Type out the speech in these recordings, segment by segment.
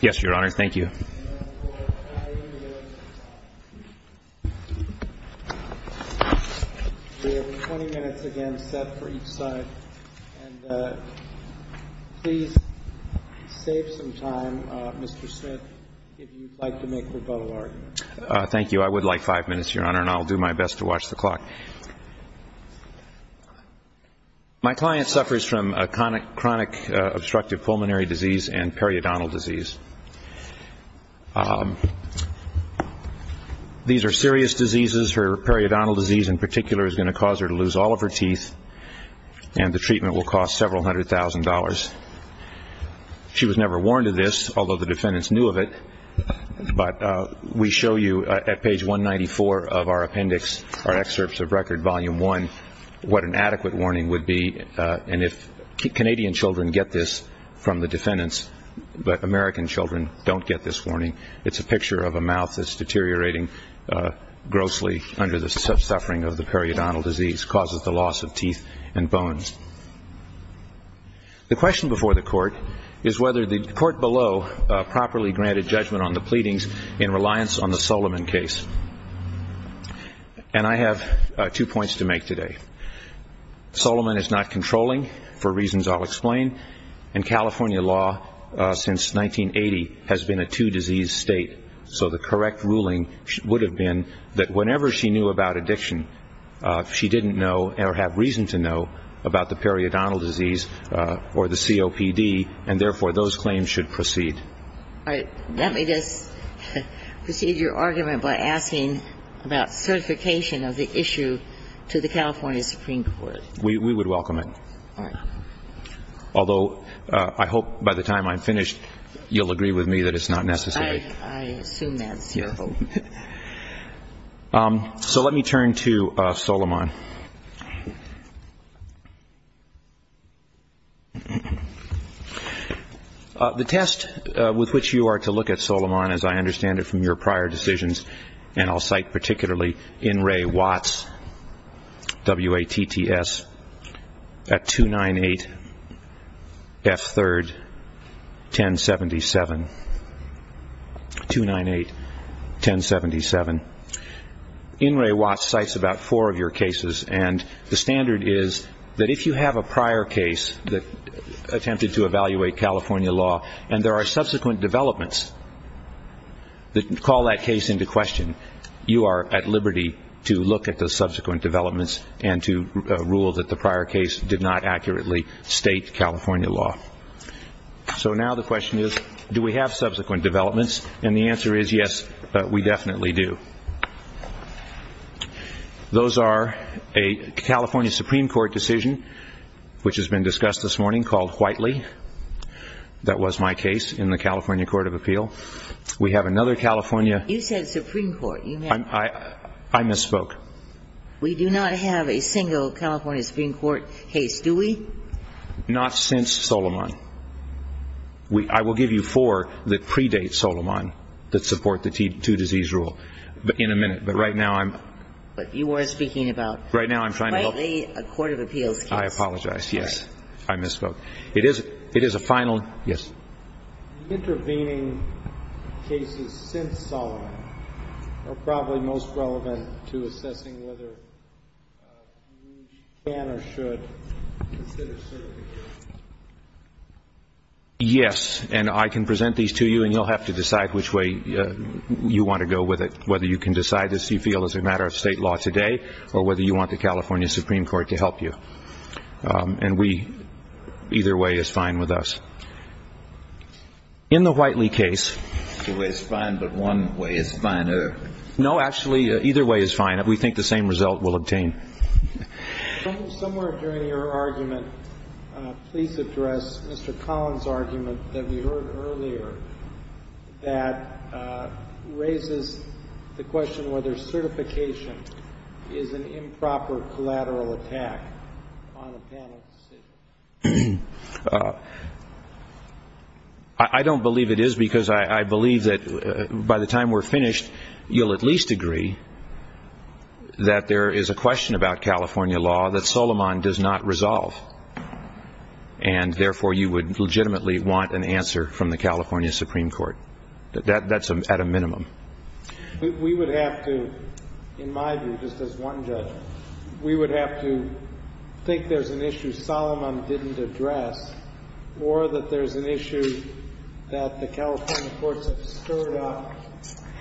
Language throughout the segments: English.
Yes, Your Honor. Thank you. We have 20 minutes again set for each side. And please save some time, Mr. Smith, if you'd like to make rebuttal arguments. Thank you. I would like five minutes, Your Honor, and I'll do my best to watch the clock. My client suffers from chronic obstructive pulmonary disease and periodontal disease. These are serious diseases. Her periodontal disease, in particular, is going to cause her to lose all of her teeth, and the treatment will cost several hundred thousand dollars. She was never warned of this, although the defendants knew of it. But we show you at the records of Record Volume 1 what an adequate warning would be. And if Canadian children get this from the defendants, but American children don't get this warning, it's a picture of a mouth that's deteriorating grossly under the suffering of the periodontal disease, causes the loss of teeth and bones. The question before the Court is whether the Court below properly granted judgment on the two points to make today. Solomon is not controlling, for reasons I'll explain. And California law since 1980 has been a two-disease state. So the correct ruling would have been that whenever she knew about addiction, she didn't know or have reason to know about the periodontal disease or the COPD, and therefore those claims should proceed. All right. Let me just proceed your argument by asking about certification of the issue to the California Supreme Court. We would welcome it. All right. Although I hope by the time I'm finished, you'll agree with me that it's not necessary. I assume that's your hope. So let me turn to Solomon. The test with which you are to look at Solomon, as I understand it from your prior decisions, and I'll cite particularly In re Watts, W-A-T-T-S, at 298F3, 1077. 298, 1077. In re Watts cites about four of your cases, and the standard is that if you have a prior case that attempted to evaluate California law, and there are subsequent developments that call that case into question, you are at liberty to look at the subsequent developments and to rule that the prior case did not accurately state California law. So now the question is, do we have subsequent developments? And the answer is yes, we definitely do. Those are a California Supreme Court decision, which has been discussed this morning, called Whiteley. That was my case in the California Court of Appeal. We have another California. You said Supreme Court. I misspoke. We do not have a single California Supreme Court case, do we? Not since Solomon. I will give you four that predate Solomon that support the two-disease rule in a minute. But right now I'm. But you are speaking about. Right now I'm trying to help. Whiteley Court of Appeals case. I apologize. Yes. I misspoke. It is a final. Yes. Intervening cases since Solomon are probably most relevant to assessing whether you can or should consider certifying. Yes, and I can present these to you, and you'll have to decide which way you want to go with it, whether you can decide this you feel is a matter of state law today or whether you want the California Supreme Court to help you. And we either way is fine with us. In the Whiteley case. The way is fine, but one way is finer. No, actually, either way is fine. We think the same result will obtain. Somewhere during your argument. Please address Mr. Collins argument that we heard earlier that raises the question whether certification is an improper collateral attack. I don't believe it is because I believe that by the time we're finished, you'll at least agree that there is a question about California law that Solomon does not resolve, and therefore you would legitimately want an answer from the California Supreme Court. That's at a minimum. We would have to, in my view, just as one judge, we would have to think there's an issue Solomon didn't address or that there's an issue that the California courts have stirred up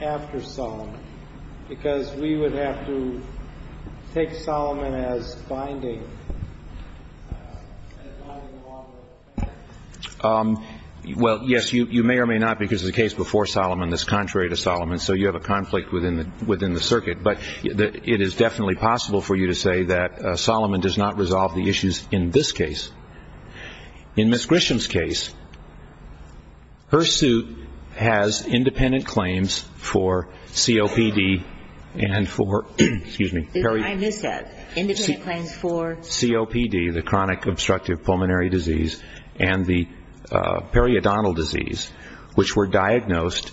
after Solomon because we would have to take Solomon as binding. Well, yes, you may or may not, because the case before Solomon is contrary to Solomon, so you have a conflict within the circuit, but it is definitely possible for you to say that Solomon does not resolve the issues in this case. In Ms. Grisham's case, her suit has independent claims for COPD and for, excuse me. I missed that. Independent claims for? COPD, the chronic obstructive pulmonary disease, and the periodontal disease, which were diagnosed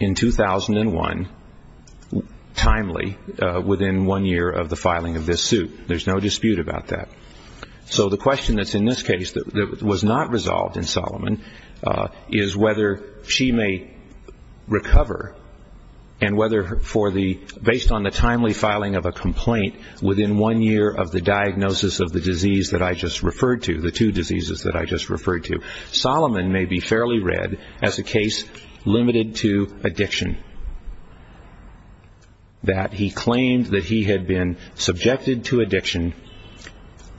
in 2001 timely within one year of the filing of this suit. There's no dispute about that. So the question that's in this case that was not resolved in Solomon is whether she may recover and whether based on the timely filing of a complaint within one year of the diagnosis of the disease that I just referred to, the two diseases that I just referred to, Solomon may be fairly read as a case limited to addiction, that he claimed that he had been subjected to addiction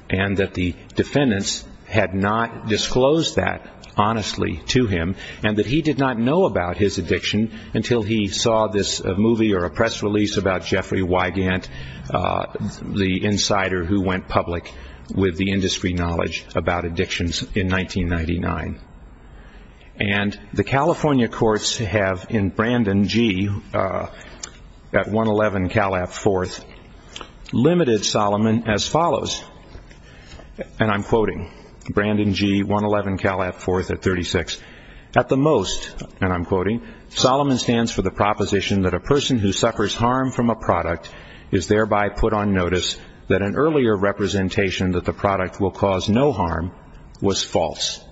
and that the defendants had not disclosed that honestly to him and that he did not know about his addiction until he saw this movie or a press release about Jeffrey Wygant, the insider who went public with the industry knowledge about addictions in 1999. And the California courts have in Brandon G. at 111 Cal App 4th limited Solomon as follows, and I'm quoting Brandon G. 111 Cal App 4th at 36. At the most, and I'm quoting, Solomon stands for the proposition that a person who suffers harm from a product is thereby put on notice that an earlier representation that the product will cause no harm was false.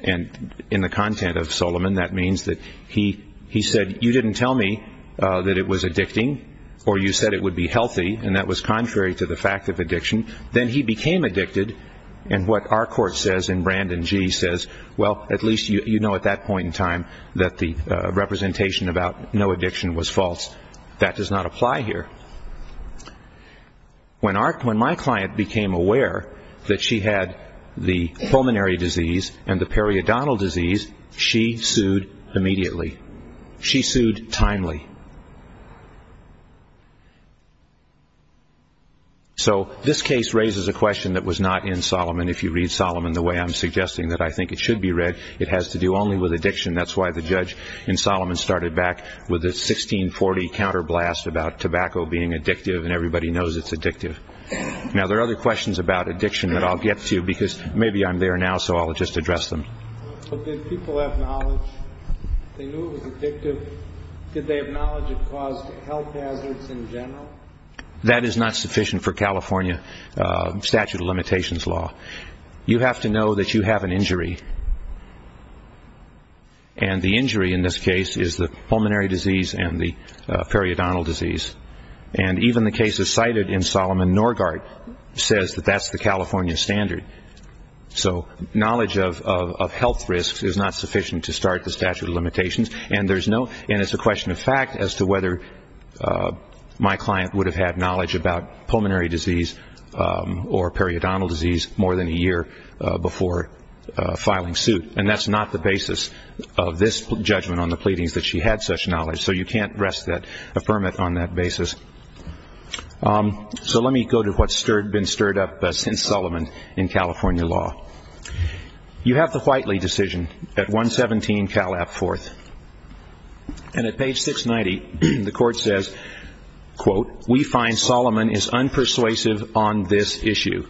And in the content of Solomon, that means that he said, you didn't tell me that it was addicting or you said it would be healthy, and that was contrary to the fact of addiction. Then he became addicted, and what our court says in Brandon G. says, well, at least you know at that point in time that the representation about no addiction was false. That does not apply here. When my client became aware that she had the pulmonary disease and the periodontal disease, she sued immediately. She sued timely. So this case raises a question that was not in Solomon. If you read Solomon the way I'm suggesting that I think it should be read, it has to do only with addiction. That's why the judge in Solomon started back with a 1640 counterblast about tobacco being addictive and everybody knows it's addictive. Now, there are other questions about addiction that I'll get to because maybe I'm there now, so I'll just address them. But did people have knowledge? They knew it was addictive. Did they have knowledge it caused health hazards in general? That is not sufficient for California statute of limitations law. You have to know that you have an injury, and the injury in this case is the pulmonary disease and the periodontal disease. And even the cases cited in Solomon Norgardt says that that's the California standard. So knowledge of health risks is not sufficient to start the statute of limitations, and it's a question of fact as to whether my client would have had knowledge about pulmonary disease or periodontal disease more than a year before filing suit. And that's not the basis of this judgment on the pleadings that she had such knowledge, so you can't rest that affirmative on that basis. So let me go to what's been stirred up since Solomon in California law. You have the Whiteley decision at 117 Cal. App. 4th, and at page 690 the court says, quote, We find Solomon is unpersuasive on this issue,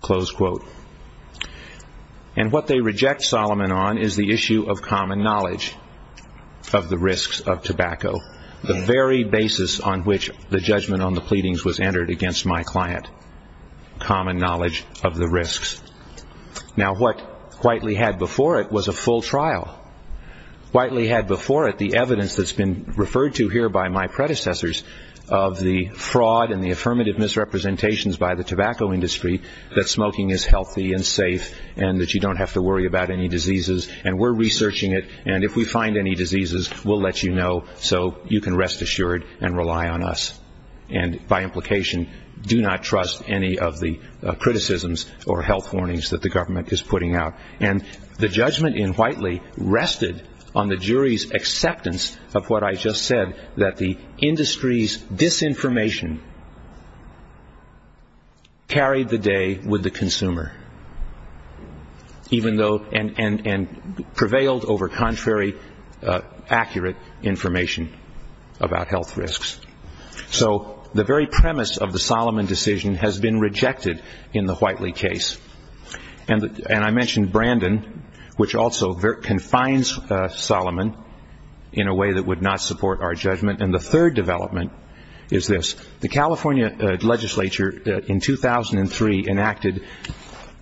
close quote. And what they reject Solomon on is the issue of common knowledge of the risks of tobacco, the very basis on which the judgment on the pleadings was entered against my client, common knowledge of the risks. Now what Whiteley had before it was a full trial. Whiteley had before it the evidence that's been referred to here by my predecessors of the fraud and the affirmative misrepresentations by the tobacco industry that smoking is healthy and safe and that you don't have to worry about any diseases, and we're researching it, and if we find any diseases, we'll let you know so you can rest assured and rely on us. And by implication, do not trust any of the criticisms or health warnings that the government is putting out. And the judgment in Whiteley rested on the jury's acceptance of what I just said, that the industry's disinformation carried the day with the consumer, and prevailed over contrary accurate information about health risks. So the very premise of the Solomon decision has been rejected in the Whiteley case. And I mentioned Brandon, which also confines Solomon in a way that would not support our judgment. And the third development is this. The California legislature in 2003 enacted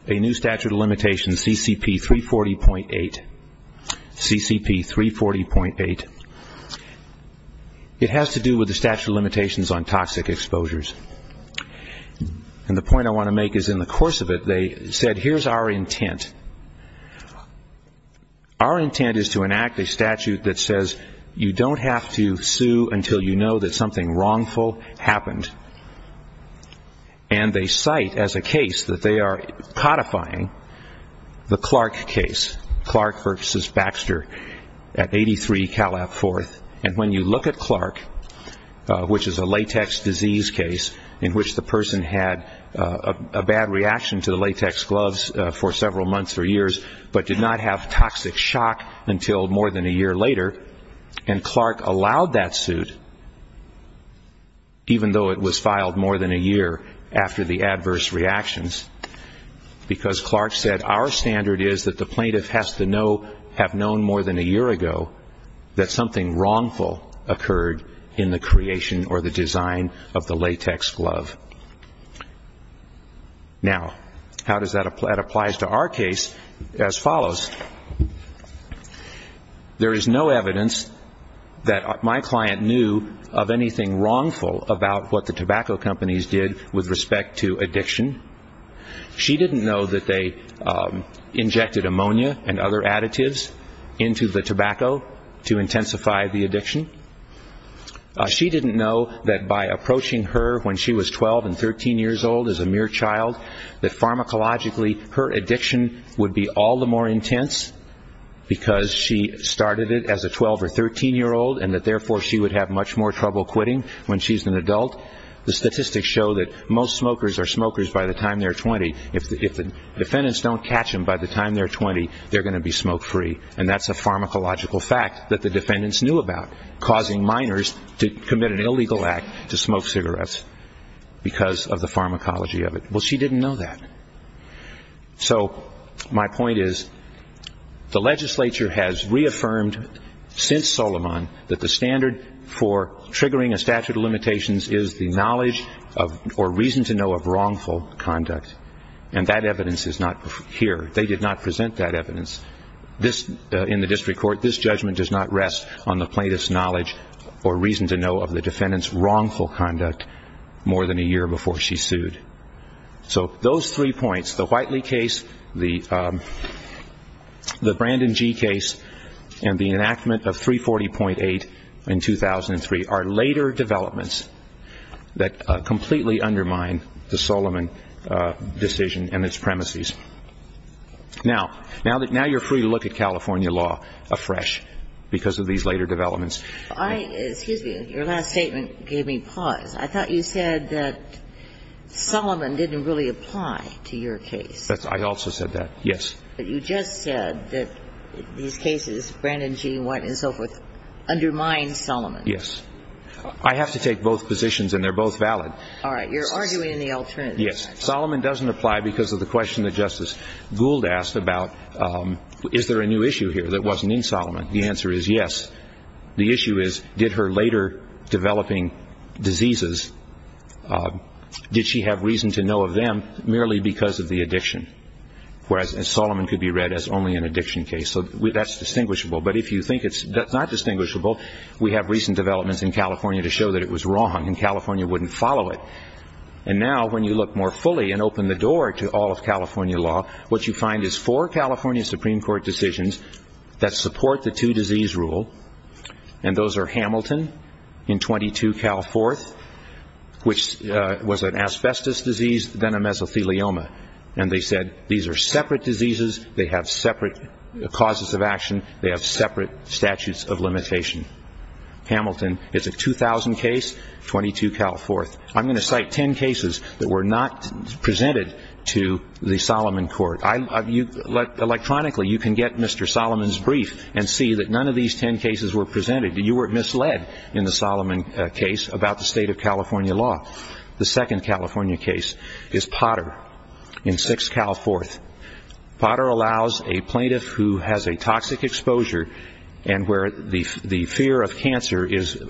a new statute of limitations, CCP 340.8. It has to do with the statute of limitations on toxic exposures. And the point I want to make is in the course of it, they said, here's our intent. Our intent is to enact a statute that says you don't have to sue until you know that something wrongful happened. And they cite as a case that they are codifying the Clark case, Clark v. Baxter at 83 Calab Fourth. And when you look at Clark, which is a latex disease case in which the person had a bad reaction to the latex gloves for several months or years, but did not have toxic shock until more than a year later, and Clark allowed that suit even though it was filed more than a year after the adverse reactions, because Clark said our standard is that the plaintiff has to have known more than a year ago that something wrongful occurred in the creation or the design of the latex glove. Now, how does that apply? It applies to our case as follows. There is no evidence that my client knew of anything wrongful about what the tobacco companies did with respect to addiction. She didn't know that they injected ammonia and other additives into the tobacco to intensify the addiction. She didn't know that by approaching her when she was 12 and 13 years old as a mere child, that pharmacologically her addiction would be all the more intense because she started it as a 12 or 13-year-old and that therefore she would have much more trouble quitting when she's an adult. The statistics show that most smokers are smokers by the time they're 20. If the defendants don't catch them by the time they're 20, they're going to be smoke-free. And that's a pharmacological fact that the defendants knew about, causing minors to commit an illegal act to smoke cigarettes because of the pharmacology of it. Well, she didn't know that. So my point is the legislature has reaffirmed since Solomon that the standard for triggering a statute of limitations is the knowledge or reason to know of wrongful conduct. And that evidence is not here. They did not present that evidence in the district court. This judgment does not rest on the plaintiff's knowledge or reason to know of the defendant's wrongful conduct more than a year before she sued. So those three points, the Whiteley case, the Brandon G. case, and the enactment of 340.8 in 2003, are later developments that completely undermine the Solomon decision and its premises. Now you're free to look at California law afresh because of these later developments. Excuse me. Your last statement gave me pause. I thought you said that Solomon didn't really apply to your case. I also said that, yes. But you just said that these cases, Brandon G., Whiteley, and so forth, undermine Solomon. Yes. I have to take both positions, and they're both valid. All right. You're arguing the alternative. Yes. Solomon doesn't apply because of the question that Justice Gould asked about is there a new issue here that wasn't in Solomon. The answer is yes. The issue is did her later developing diseases, did she have reason to know of them merely because of the addiction, whereas Solomon could be read as only an addiction case. So that's distinguishable. But if you think it's not distinguishable, we have recent developments in California to show that it was wrong, and California wouldn't follow it. And now when you look more fully and open the door to all of California law, what you find is four California Supreme Court decisions that support the two-disease rule, and those are Hamilton in 22 Cal 4th, which was an asbestos disease, then a mesothelioma. And they said these are separate diseases. They have separate causes of action. They have separate statutes of limitation. Hamilton is a 2000 case, 22 Cal 4th. I'm going to cite ten cases that were not presented to the Solomon Court. Electronically you can get Mr. Solomon's brief and see that none of these ten cases were presented. You were misled in the Solomon case about the state of California law. The second California case is Potter in 6 Cal 4th. Potter allows a plaintiff who has a toxic exposure and where the fear of cancer is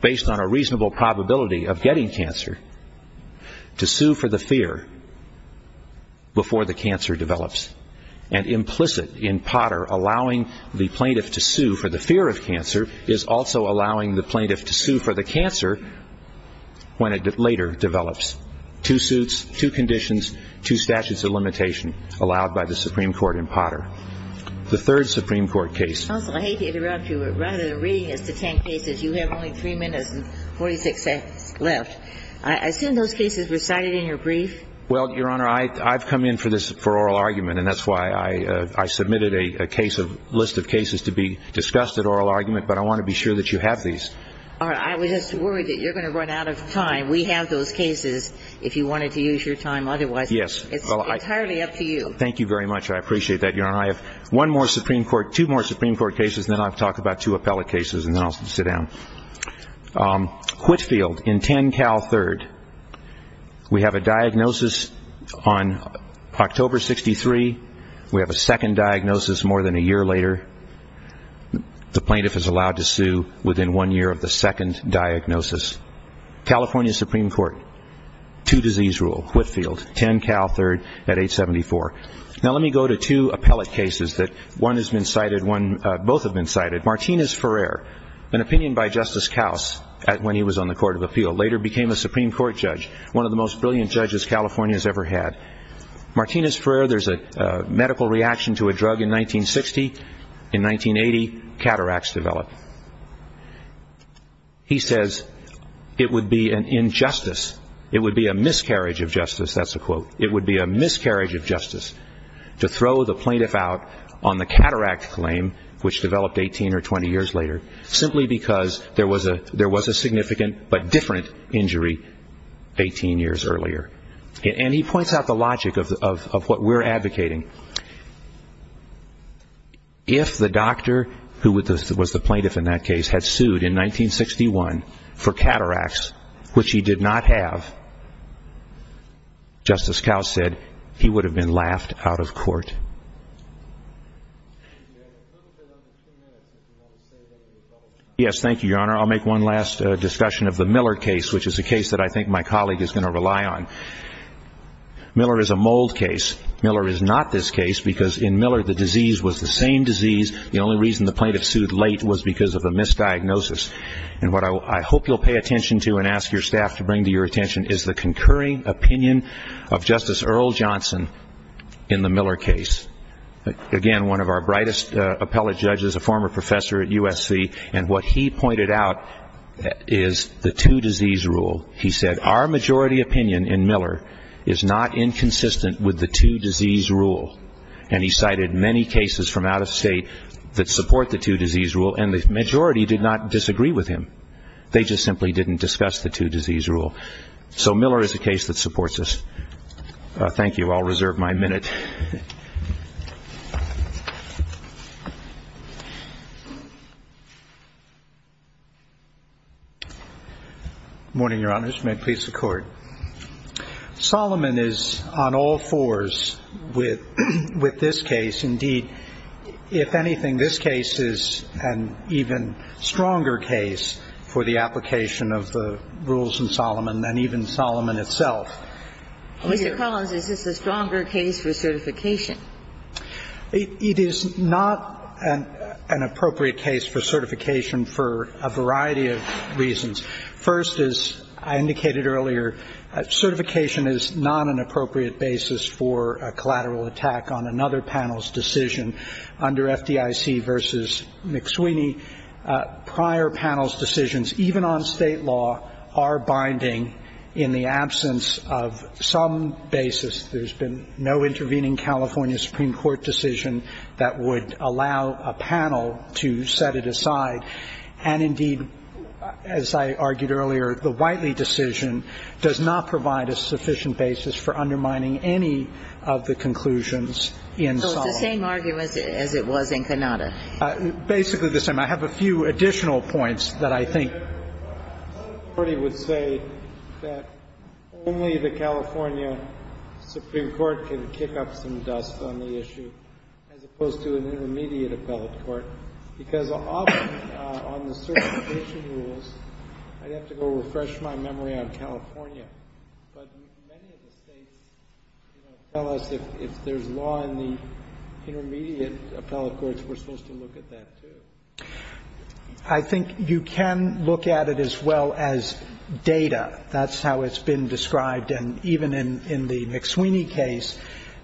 based on a reasonable probability of getting cancer to sue for the fear before the cancer develops. And implicit in Potter, allowing the plaintiff to sue for the fear of cancer is also allowing the plaintiff to sue for the cancer when it later develops. Two suits, two conditions, two statutes of limitation allowed by the Supreme Court in Potter. The third Supreme Court case. Counsel, I hate to interrupt you, but rather than reading us the ten cases, you have only three minutes and 46 seconds left. I assume those cases were cited in your brief. Well, Your Honor, I've come in for oral argument, and that's why I submitted a list of cases to be discussed at oral argument, but I want to be sure that you have these. I was just worried that you're going to run out of time. We have those cases if you wanted to use your time. Otherwise, it's entirely up to you. Thank you very much. I appreciate that, Your Honor. I have one more Supreme Court, two more Supreme Court cases, and then I'll talk about two appellate cases, and then I'll sit down. Whitfield in 10 Cal 3rd. We have a diagnosis on October 63. We have a second diagnosis more than a year later. The plaintiff is allowed to sue within one year of the second diagnosis. California Supreme Court, two disease rule, Whitfield, 10 Cal 3rd at 874. Now let me go to two appellate cases that one has been cited, both have been cited. Martinez-Ferrer, an opinion by Justice Kaus when he was on the Court of Appeal, later became a Supreme Court judge, one of the most brilliant judges California has ever had. Martinez-Ferrer, there's a medical reaction to a drug in 1960. In 1980, cataracts develop. He says it would be an injustice, it would be a miscarriage of justice, that's a quote, it would be a miscarriage of justice to throw the plaintiff out on the cataract claim, which developed 18 or 20 years later, simply because there was a significant but different injury 18 years earlier. And he points out the logic of what we're advocating. If the doctor who was the plaintiff in that case had sued in 1961 for cataracts, which he did not have, Justice Kaus said he would have been laughed out of court. Yes, thank you, Your Honor. I'll make one last discussion of the Miller case, which is a case that I think my colleague is going to rely on. Miller is a mold case. Miller is not this case because in Miller the disease was the same disease. The only reason the plaintiff sued late was because of a misdiagnosis. And what I hope you'll pay attention to and ask your staff to bring to your attention is the concurring opinion of Justice Earl Johnson in the Miller case. Again, one of our brightest appellate judges, a former professor at USC, and what he pointed out is the two-disease rule. He said our majority opinion in Miller is not inconsistent with the two-disease rule. And he cited many cases from out of state that support the two-disease rule, and the majority did not disagree with him. They just simply didn't discuss the two-disease rule. So Miller is a case that supports this. Thank you. I'll reserve my minute. Good morning, Your Honors. May it please the Court. Solomon is on all fours with this case. Indeed, if anything, this case is an even stronger case for the application of the rules in Solomon and even Solomon itself. Mr. Collins, is this a stronger case for certain? It is not an appropriate case for certification for a variety of reasons. First, as I indicated earlier, certification is not an appropriate basis for a collateral attack on another panel's decision under FDIC versus McSweeney. Prior panel's decisions, even on state law, are binding in the absence of some basis. There's been no intervening California Supreme Court decision that would allow a panel to set it aside. And indeed, as I argued earlier, the Whiteley decision does not provide a sufficient basis for undermining any of the conclusions in Solomon. So it's the same argument as it was in Cannata. Basically the same. I have a few additional points that I think the Court would say that only the California Supreme Court can kick up some dust on the issue, as opposed to an intermediate appellate court, because often on the certification rules, I'd have to go refresh my memory on California, but many of the States tell us if there's law in the intermediate appellate courts, we're supposed to look at that, too. I think you can look at it as well as data. That's how it's been described. And even in the McSweeney case,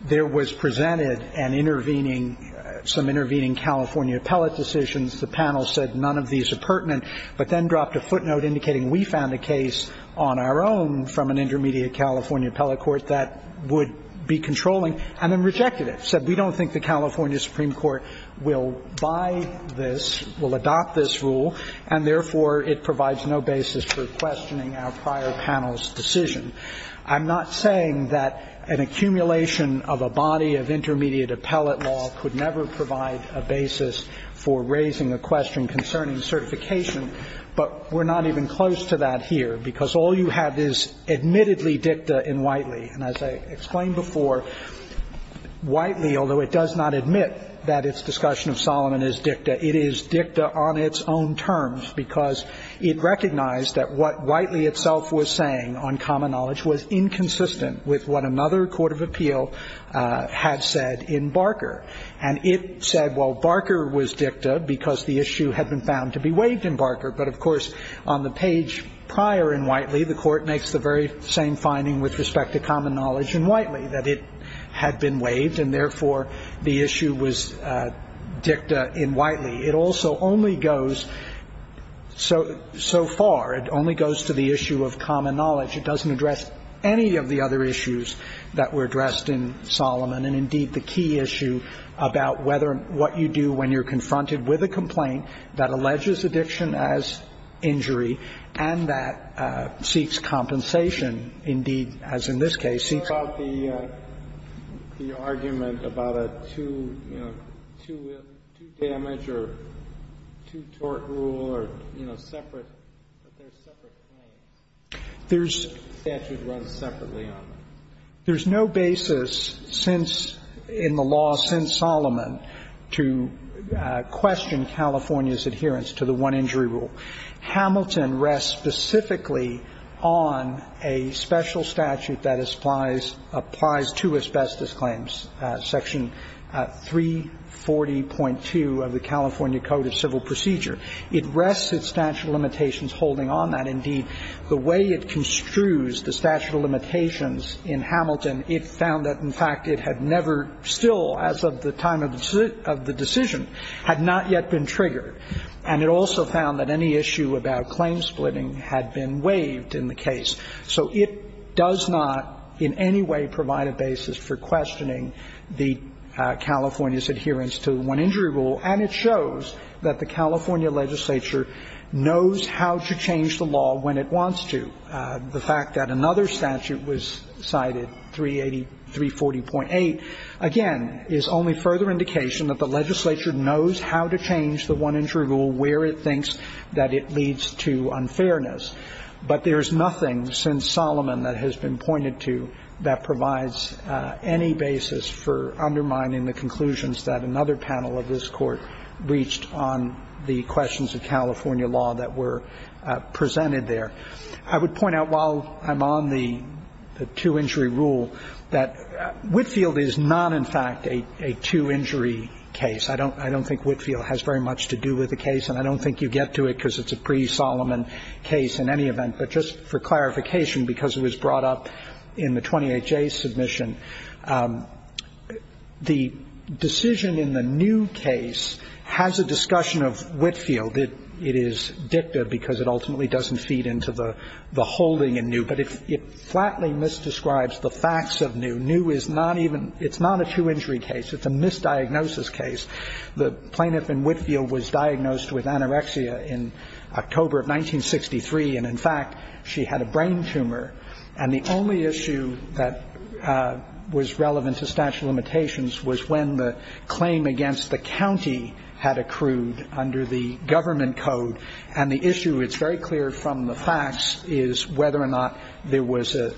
there was presented an intervening, some intervening California appellate decisions. The panel said none of these are pertinent, but then dropped a footnote indicating we found a case on our own from an intermediate California appellate court that would be controlling, and then rejected it, said we don't think the California Supreme Court will buy this, will adopt this rule, and therefore it provides no basis for the entire panel's decision. I'm not saying that an accumulation of a body of intermediate appellate law could never provide a basis for raising a question concerning certification, but we're not even close to that here, because all you have is admittedly dicta in Whiteley. And as I explained before, Whiteley, although it does not admit that its discussion of Solomon is dicta, it is dicta on its own terms, because it recognized that what Whiteley was saying on common knowledge was inconsistent with what another court of appeal had said in Barker. And it said, well, Barker was dicta because the issue had been found to be waived in Barker. But, of course, on the page prior in Whiteley, the Court makes the very same finding with respect to common knowledge in Whiteley, that it had been waived, and therefore the issue was dicta in Whiteley. It also only goes so far. It only goes to the issue of common knowledge. It doesn't address any of the other issues that were addressed in Solomon. And, indeed, the key issue about whether what you do when you're confronted with a complaint that alleges addiction as injury and that seeks compensation, indeed, as in this case, seeks compensation. And there's no basis in the statute that you can comment about a two-damage or two-tort rule or, you know, separate, but there's separate claims. There's no statute run separately on it. There's no basis since – in the law since Solomon to question California's adherence to the one-injury rule. Hamilton rests specifically on a special statute that applies to asbestos claims, section 340.2 of the California Code of Civil Procedure. It rests its statute of limitations holding on that. Indeed, the way it construes the statute of limitations in Hamilton, it found that, in fact, it had never still, as of the time of the decision, had not yet been triggered. And it also found that any issue about claim splitting had been waived in the case. So it does not in any way provide a basis for questioning the California's adherence to the one-injury rule. And it shows that the California legislature knows how to change the law when it wants to. The fact that another statute was cited, 380 – 340.8, again, is only further indication that the legislature knows how to change the one-injury rule where it thinks that it leads to unfairness. But there is nothing since Solomon that has been pointed to that provides any basis for undermining the conclusions that another panel of this Court reached on the questions of California law that were presented there. I would point out, while I'm on the two-injury rule, that Whitfield is not, in fact, a two-injury case. I don't think Whitfield has very much to do with the case. And I don't think you get to it because it's a pre-Solomon case in any event. But just for clarification, because it was brought up in the 28J submission, the decision in the New case has a discussion of Whitfield. It is dicta because it ultimately doesn't feed into the holding in New. But it flatly misdescribes the facts of New. New is not even ñ it's not a two-injury case. It's a misdiagnosis case. The plaintiff in Whitfield was diagnosed with anorexia in October of 1963. And, in fact, she had a brain tumor. And the only issue that was relevant to statute of limitations was when the claim against the county had accrued under the government code. And the issue, it's very clear from the facts, is whether or not there was a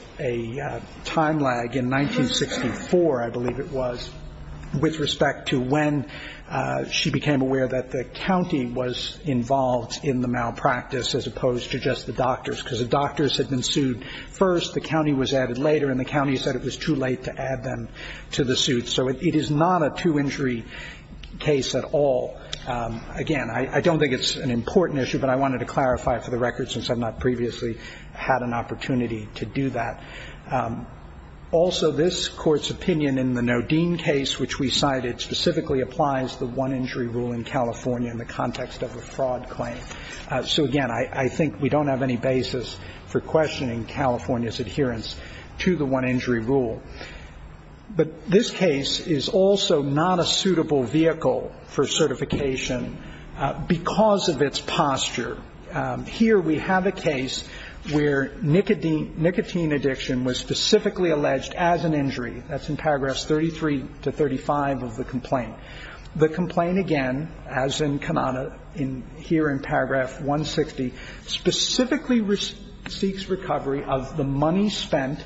time lag in 1964, I believe it was, with respect to when she became aware that the county was involved in the malpractice as opposed to just the doctors. Because the doctors had been sued first, the county was added later, and the county said it was too late to add them to the suit. So it is not a two-injury case at all. Again, I don't think it's an important issue, but I wanted to clarify it for the record since I've not previously had an opportunity to do that. Also, this Court's opinion in the Nodine case, which we cited, specifically applies the one-injury rule in California in the context of a fraud claim. So, again, I think we don't have any basis for questioning California's adherence to the one-injury rule. But this case is also not a suitable vehicle for certification because of its posture. Here we have a case where nicotine addiction was specifically alleged as an injury. That's in paragraphs 33 to 35 of the complaint. The complaint, again, as in Kanana, here in paragraph 160, specifically seeks recovery of the money spent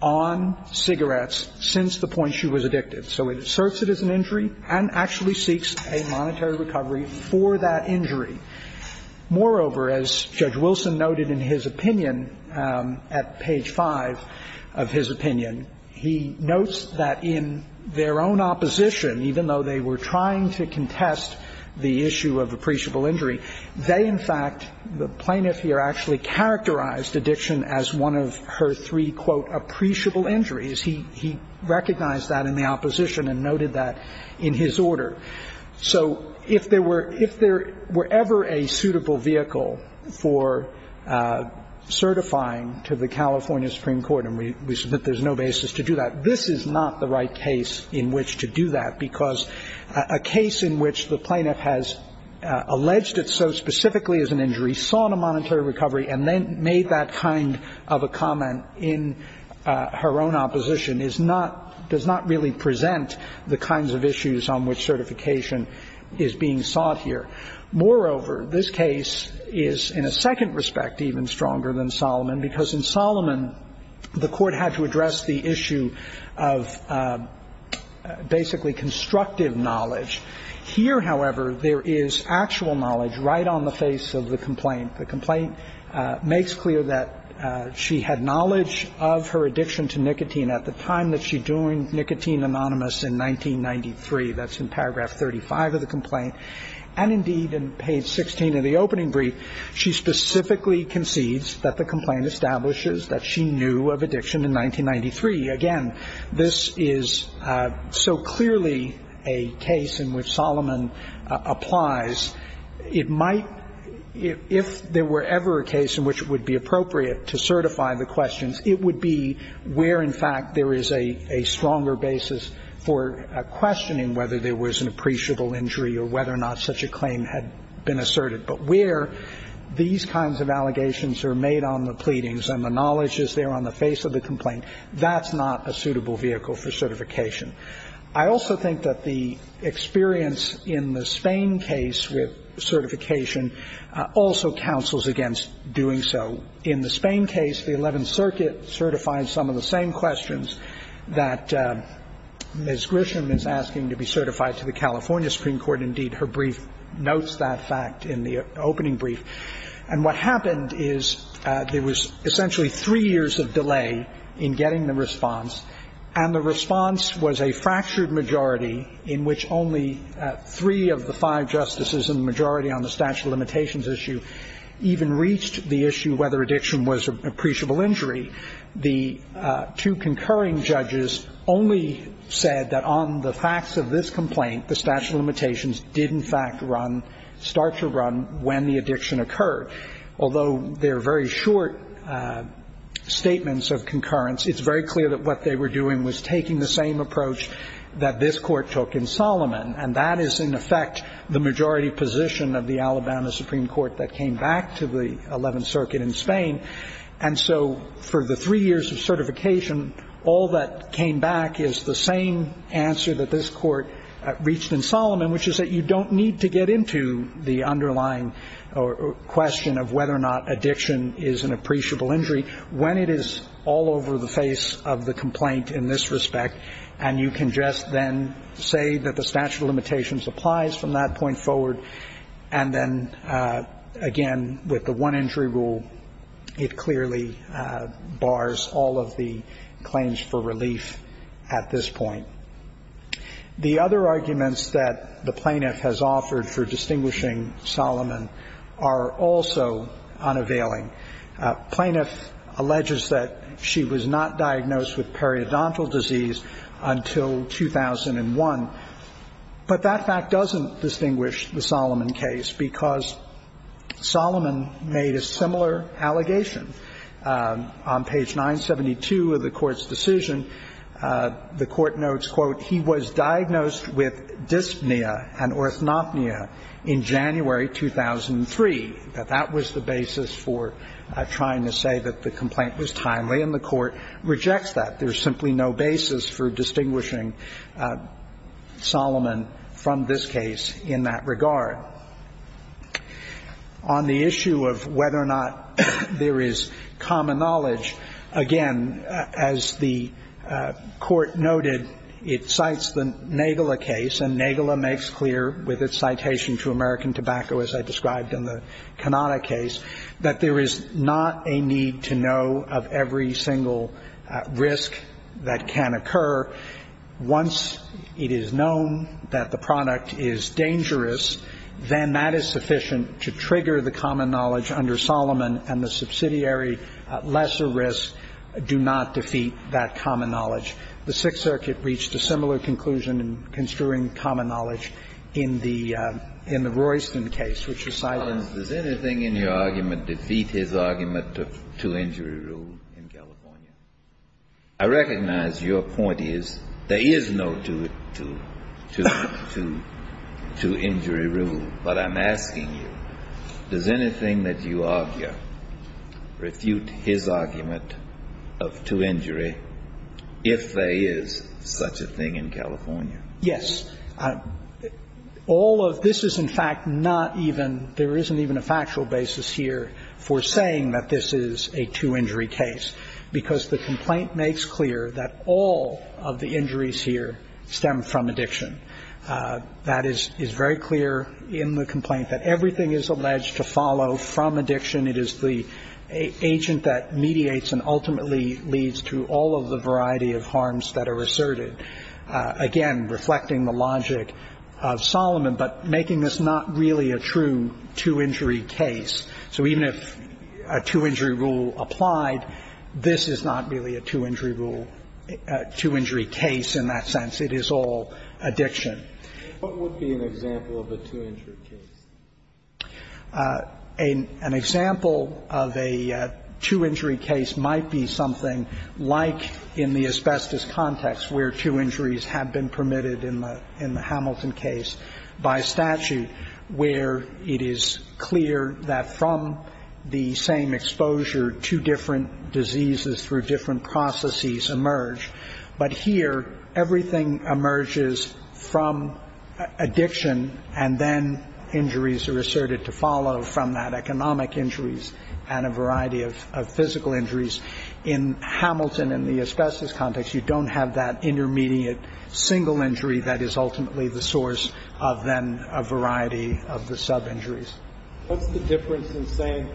on cigarettes since the point she was addicted. So it asserts it as an injury and actually seeks a monetary recovery for that injury. Moreover, as Judge Wilson noted in his opinion at page 5 of his opinion, he notes that in their own opposition, even though they were trying to contest the issue of appreciable injury, they in fact, the plaintiff here actually characterized addiction as one of her three, quote, appreciable injuries. He recognized that in the opposition and noted that in his order. So if there were ever a suitable vehicle for certifying to the California Supreme Court, and we submit there's no basis to do that, this is not the right case in which to do that because a case in which the plaintiff has alleged it so specifically as an injury, sought a monetary recovery and then made that kind of a comment in her own opposition does not really present the kinds of issues on which certification is being sought here. Moreover, this case is in a second respect even stronger than Solomon because in Solomon, the court had to address the issue of basically constructive knowledge. Here, however, there is actual knowledge right on the face of the complaint. The complaint makes clear that she had knowledge of her addiction to nicotine at the time that she joined Nicotine Anonymous in 1993. That's in paragraph 35 of the complaint. And indeed, in page 16 of the opening brief, she specifically concedes that the complaint establishes that she knew of addiction in 1993. Again, this is so clearly a case in which Solomon applies. It might, if there were ever a case in which it would be appropriate to certify the questions, it would be where in fact there is a stronger basis for questioning whether there was an appreciable injury or whether or not such a claim had been asserted. But where these kinds of allegations are made on the pleadings and the knowledge is there on the face of the complaint, that's not a suitable vehicle for certification. I also think that the experience in the Spain case with certification also counsels against doing so. In the Spain case, the Eleventh Circuit certified some of the same questions that Ms. Grisham is asking to be certified to the California Supreme Court. Indeed, her brief notes that fact in the opening brief. And what happened is there was essentially three years of delay in getting the response. And the response was a fractured majority in which only three of the five justices in the majority on the statute of limitations issue even reached the issue whether addiction was an appreciable injury. The two concurring judges only said that on the facts of this complaint, the statute of limitations did in fact start to run when the addiction occurred. Although they're very short statements of concurrence, it's very clear that what they were doing was taking the same approach that this court took in Solomon. And that is in effect the majority position of the Alabama Supreme Court that came back to the Eleventh Circuit in Spain. And so for the three years of certification, all that came back is the same answer that this court reached in Solomon, which is that you don't need to get into the underlying question of whether or not addiction is an appreciable injury when it is all over the face of the complaint in this respect. And you can just then say that the statute of limitations applies from that point forward. And then, again, with the one injury rule, it clearly bars all of the claims for relief at this point. The other arguments that the plaintiff has offered for distinguishing Solomon are also unavailing. Plaintiff alleges that she was not diagnosed with periodontal disease until 2001. But that fact doesn't distinguish the Solomon case because Solomon made a similar allegation. On page 972 of the Court's decision, the Court notes, quote, he was diagnosed with dyspnea and orthopnea in January 2003. That that was the basis for trying to say that the complaint was timely, and the Court rejects that. There's simply no basis for distinguishing Solomon from this case in that regard. On the issue of whether or not there is common knowledge, again, as the Court noted, it cites the Nagala case, and Nagala makes clear with its citation to American Tobacco, as I described in the Kanata case, that there is not a need to know of every single risk that can occur. Once it is known that the product is dangerous, then that is sufficient to trigger the common knowledge under Solomon, and the subsidiary lesser risk do not defeat that common knowledge. The Sixth Circuit reached a similar conclusion in construing common knowledge in the Royston case, which is cited. Mr. Collins, does anything in your argument defeat his argument of two-injury rule in California? I recognize your point is there is no two-injury rule, but I'm asking you, does anything that you argue refute his argument of two-injury if there is such a thing in California? Yes. All of this is in fact not even, there isn't even a factual basis here for saying that this is a two-injury case, because the complaint makes clear that all of the injuries here stem from addiction. That is very clear in the complaint, that everything is alleged to follow from addiction. It is the agent that mediates and ultimately leads to all of the variety of harms that are asserted. Again, reflecting the logic of Solomon, but making this not really a true two-injury case. So even if a two-injury rule applied, this is not really a two-injury rule, a two-injury case in that sense. It is all addiction. What would be an example of a two-injury case? An example of a two-injury case might be something like in the asbestos context where two injuries have been permitted in the Hamilton case by statute, where it is clear that from the same exposure, two different diseases through different processes emerge. But here, everything emerges from addiction, and then injuries are asserted to follow from that, economic injuries and a variety of physical injuries. In Hamilton, in the asbestos context, you don't have that intermediate single injury that is ultimately the source of then a variety of the sub-injuries. What's the difference in saying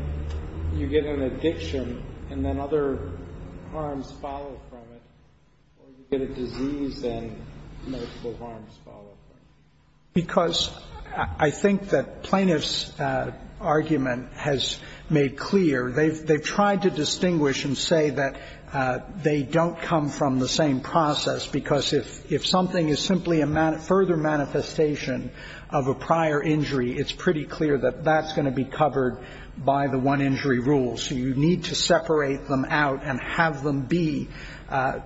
you get an addiction and then other harms follow from it, or you get a disease and multiple harms follow from it? Because I think that plaintiff's argument has made clear. They've tried to distinguish and say that they don't come from the same process because if something is simply a further manifestation of a prior injury, it's pretty clear that that's going to be covered by the one-injury rule. So you need to separate them out and have them be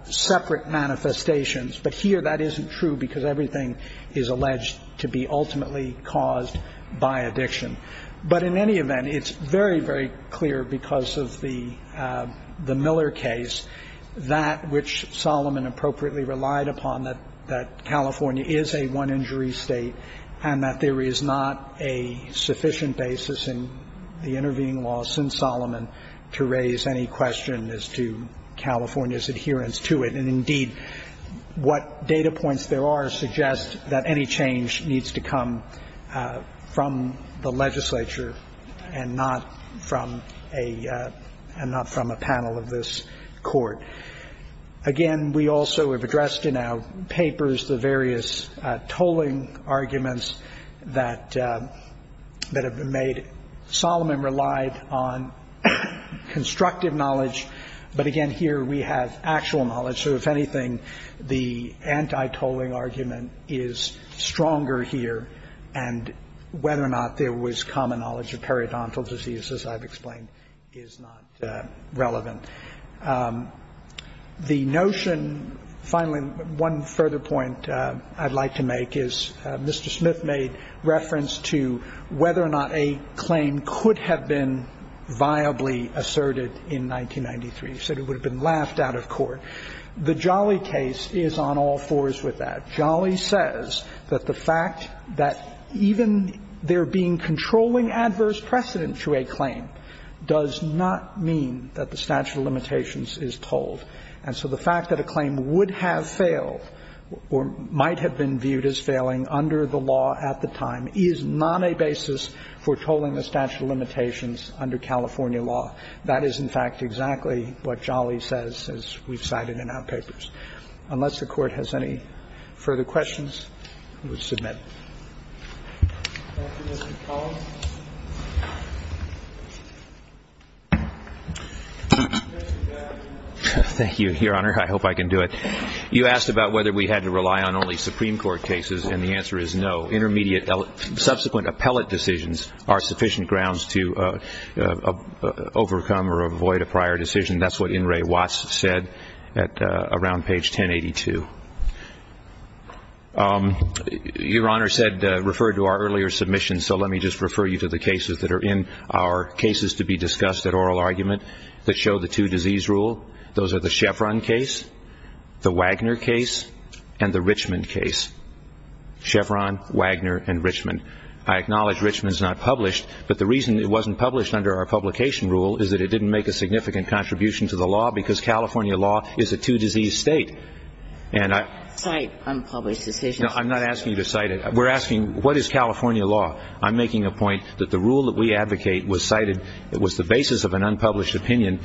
separate manifestations. But here that isn't true because everything is alleged to be ultimately caused by addiction. But in any event, it's very, very clear because of the Miller case, that which Solomon appropriately relied upon, that California is a one-injury state and that there is not a sufficient basis in the intervening law since Solomon to raise any question as to California's adherence to it. And indeed, what data points there are suggest that any change needs to come from the legislature and not from a panel of this court. Again, we also have addressed in our papers the various tolling arguments that have been made. Solomon relied on constructive knowledge. But again, here we have actual knowledge. So if anything, the anti-tolling argument is stronger here. And whether or not there was common knowledge of periodontal disease, as I've explained, is not relevant. The notion, finally, one further point I'd like to make is Mr. Smith made reference to You said it would have been laughed out of court. The Jolly case is on all fours with that. Jolly says that the fact that even there being controlling adverse precedent to a claim does not mean that the statute of limitations is tolled. And so the fact that a claim would have failed or might have been viewed as failing under the law at the time is not a basis for tolling the statute of limitations under California law. That is, in fact, exactly what Jolly says, as we've cited in our papers. Unless the Court has any further questions, we will submit. Thank you, Mr. Collins. Thank you, Your Honor. I hope I can do it. You asked about whether we had to rely on only Supreme Court cases, and the answer is no. Subsequent appellate decisions are sufficient grounds to overcome or avoid a prior decision. That's what In re Watts said around page 1082. Your Honor said, referred to our earlier submissions, so let me just refer you to the cases that are in our cases to be discussed at oral argument that show the two disease rule. Those are the Chevron case, the Wagner case, and the Richmond case. Chevron, Wagner, and Richmond. I acknowledge Richmond is not published, but the reason it wasn't published under our publication rule is that it didn't make a significant contribution to the law because California law is a two disease state. And I'm not asking you to cite it. We're asking, what is California law? I'm making a point that the rule that we advocate was cited. It was the basis of an unpublished opinion,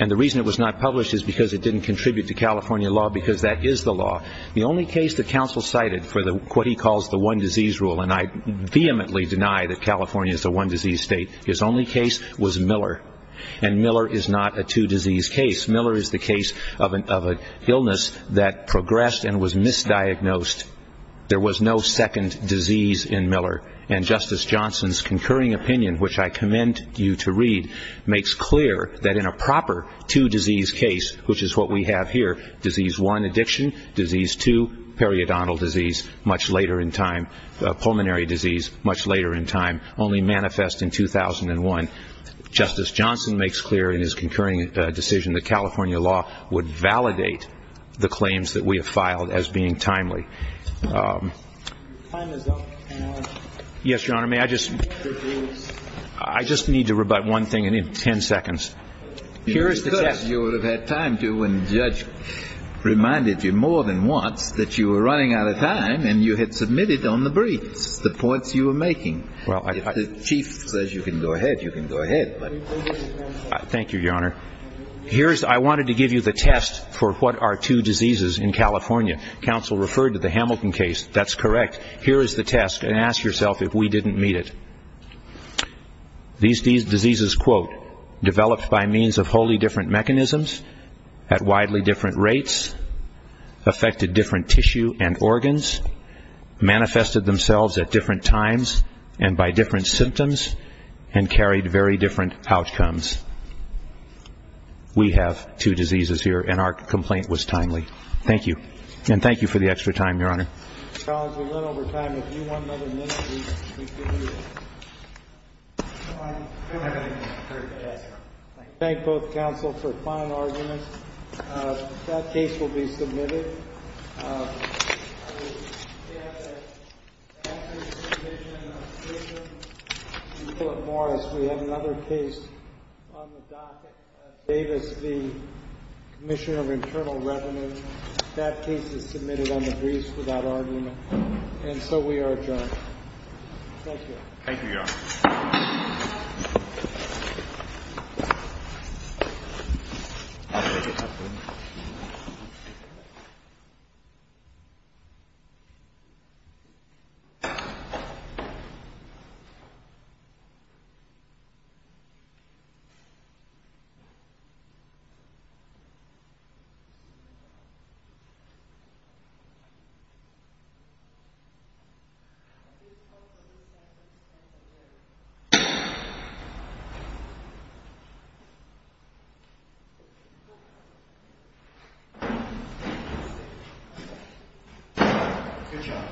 and the reason it was not published is because it didn't contribute to California law because that is the law. The only case that counsel cited for what he calls the one disease rule, and I vehemently deny that California is a one disease state, his only case was Miller, and Miller is not a two disease case. Miller is the case of an illness that progressed and was misdiagnosed. There was no second disease in Miller, and Justice Johnson's concurring opinion, which I commend you to read, makes clear that in a proper two disease case, which is what we have here, disease one, addiction, disease two, periodontal disease much later in time, pulmonary disease much later in time, only manifest in 2001. Justice Johnson makes clear in his concurring decision that California law would validate the claims that we have filed as being timely. Yes, Your Honor, may I just, I just need to rebut one thing in ten seconds. Here is the test. You would have had time to when the judge reminded you more than once that you were running out of time and you had submitted on the briefs the points you were making. If the chief says you can go ahead, you can go ahead. Thank you, Your Honor. Here is, I wanted to give you the test for what are two diseases in California. Counsel referred to the Hamilton case. That's correct. Here is the test, and ask yourself if we didn't meet it. These diseases, quote, developed by means of wholly different mechanisms at widely different rates, affected different tissue and organs, manifested themselves at different times and by different symptoms, and carried very different outcomes. We have two diseases here, and our complaint was timely. Thank you, and thank you for the extra time, Your Honor. Counsel, we run over time. If you want another minute, we can give you that. Thank both counsel for fine arguments. That case will be submitted. We have another case on the docket. Davis v. Commissioner of Internal Revenue. That case is submitted on the briefs without argument, and so we are adjourned. Thank you. Thank you, Your Honor. Thank you. Good job. Thank you.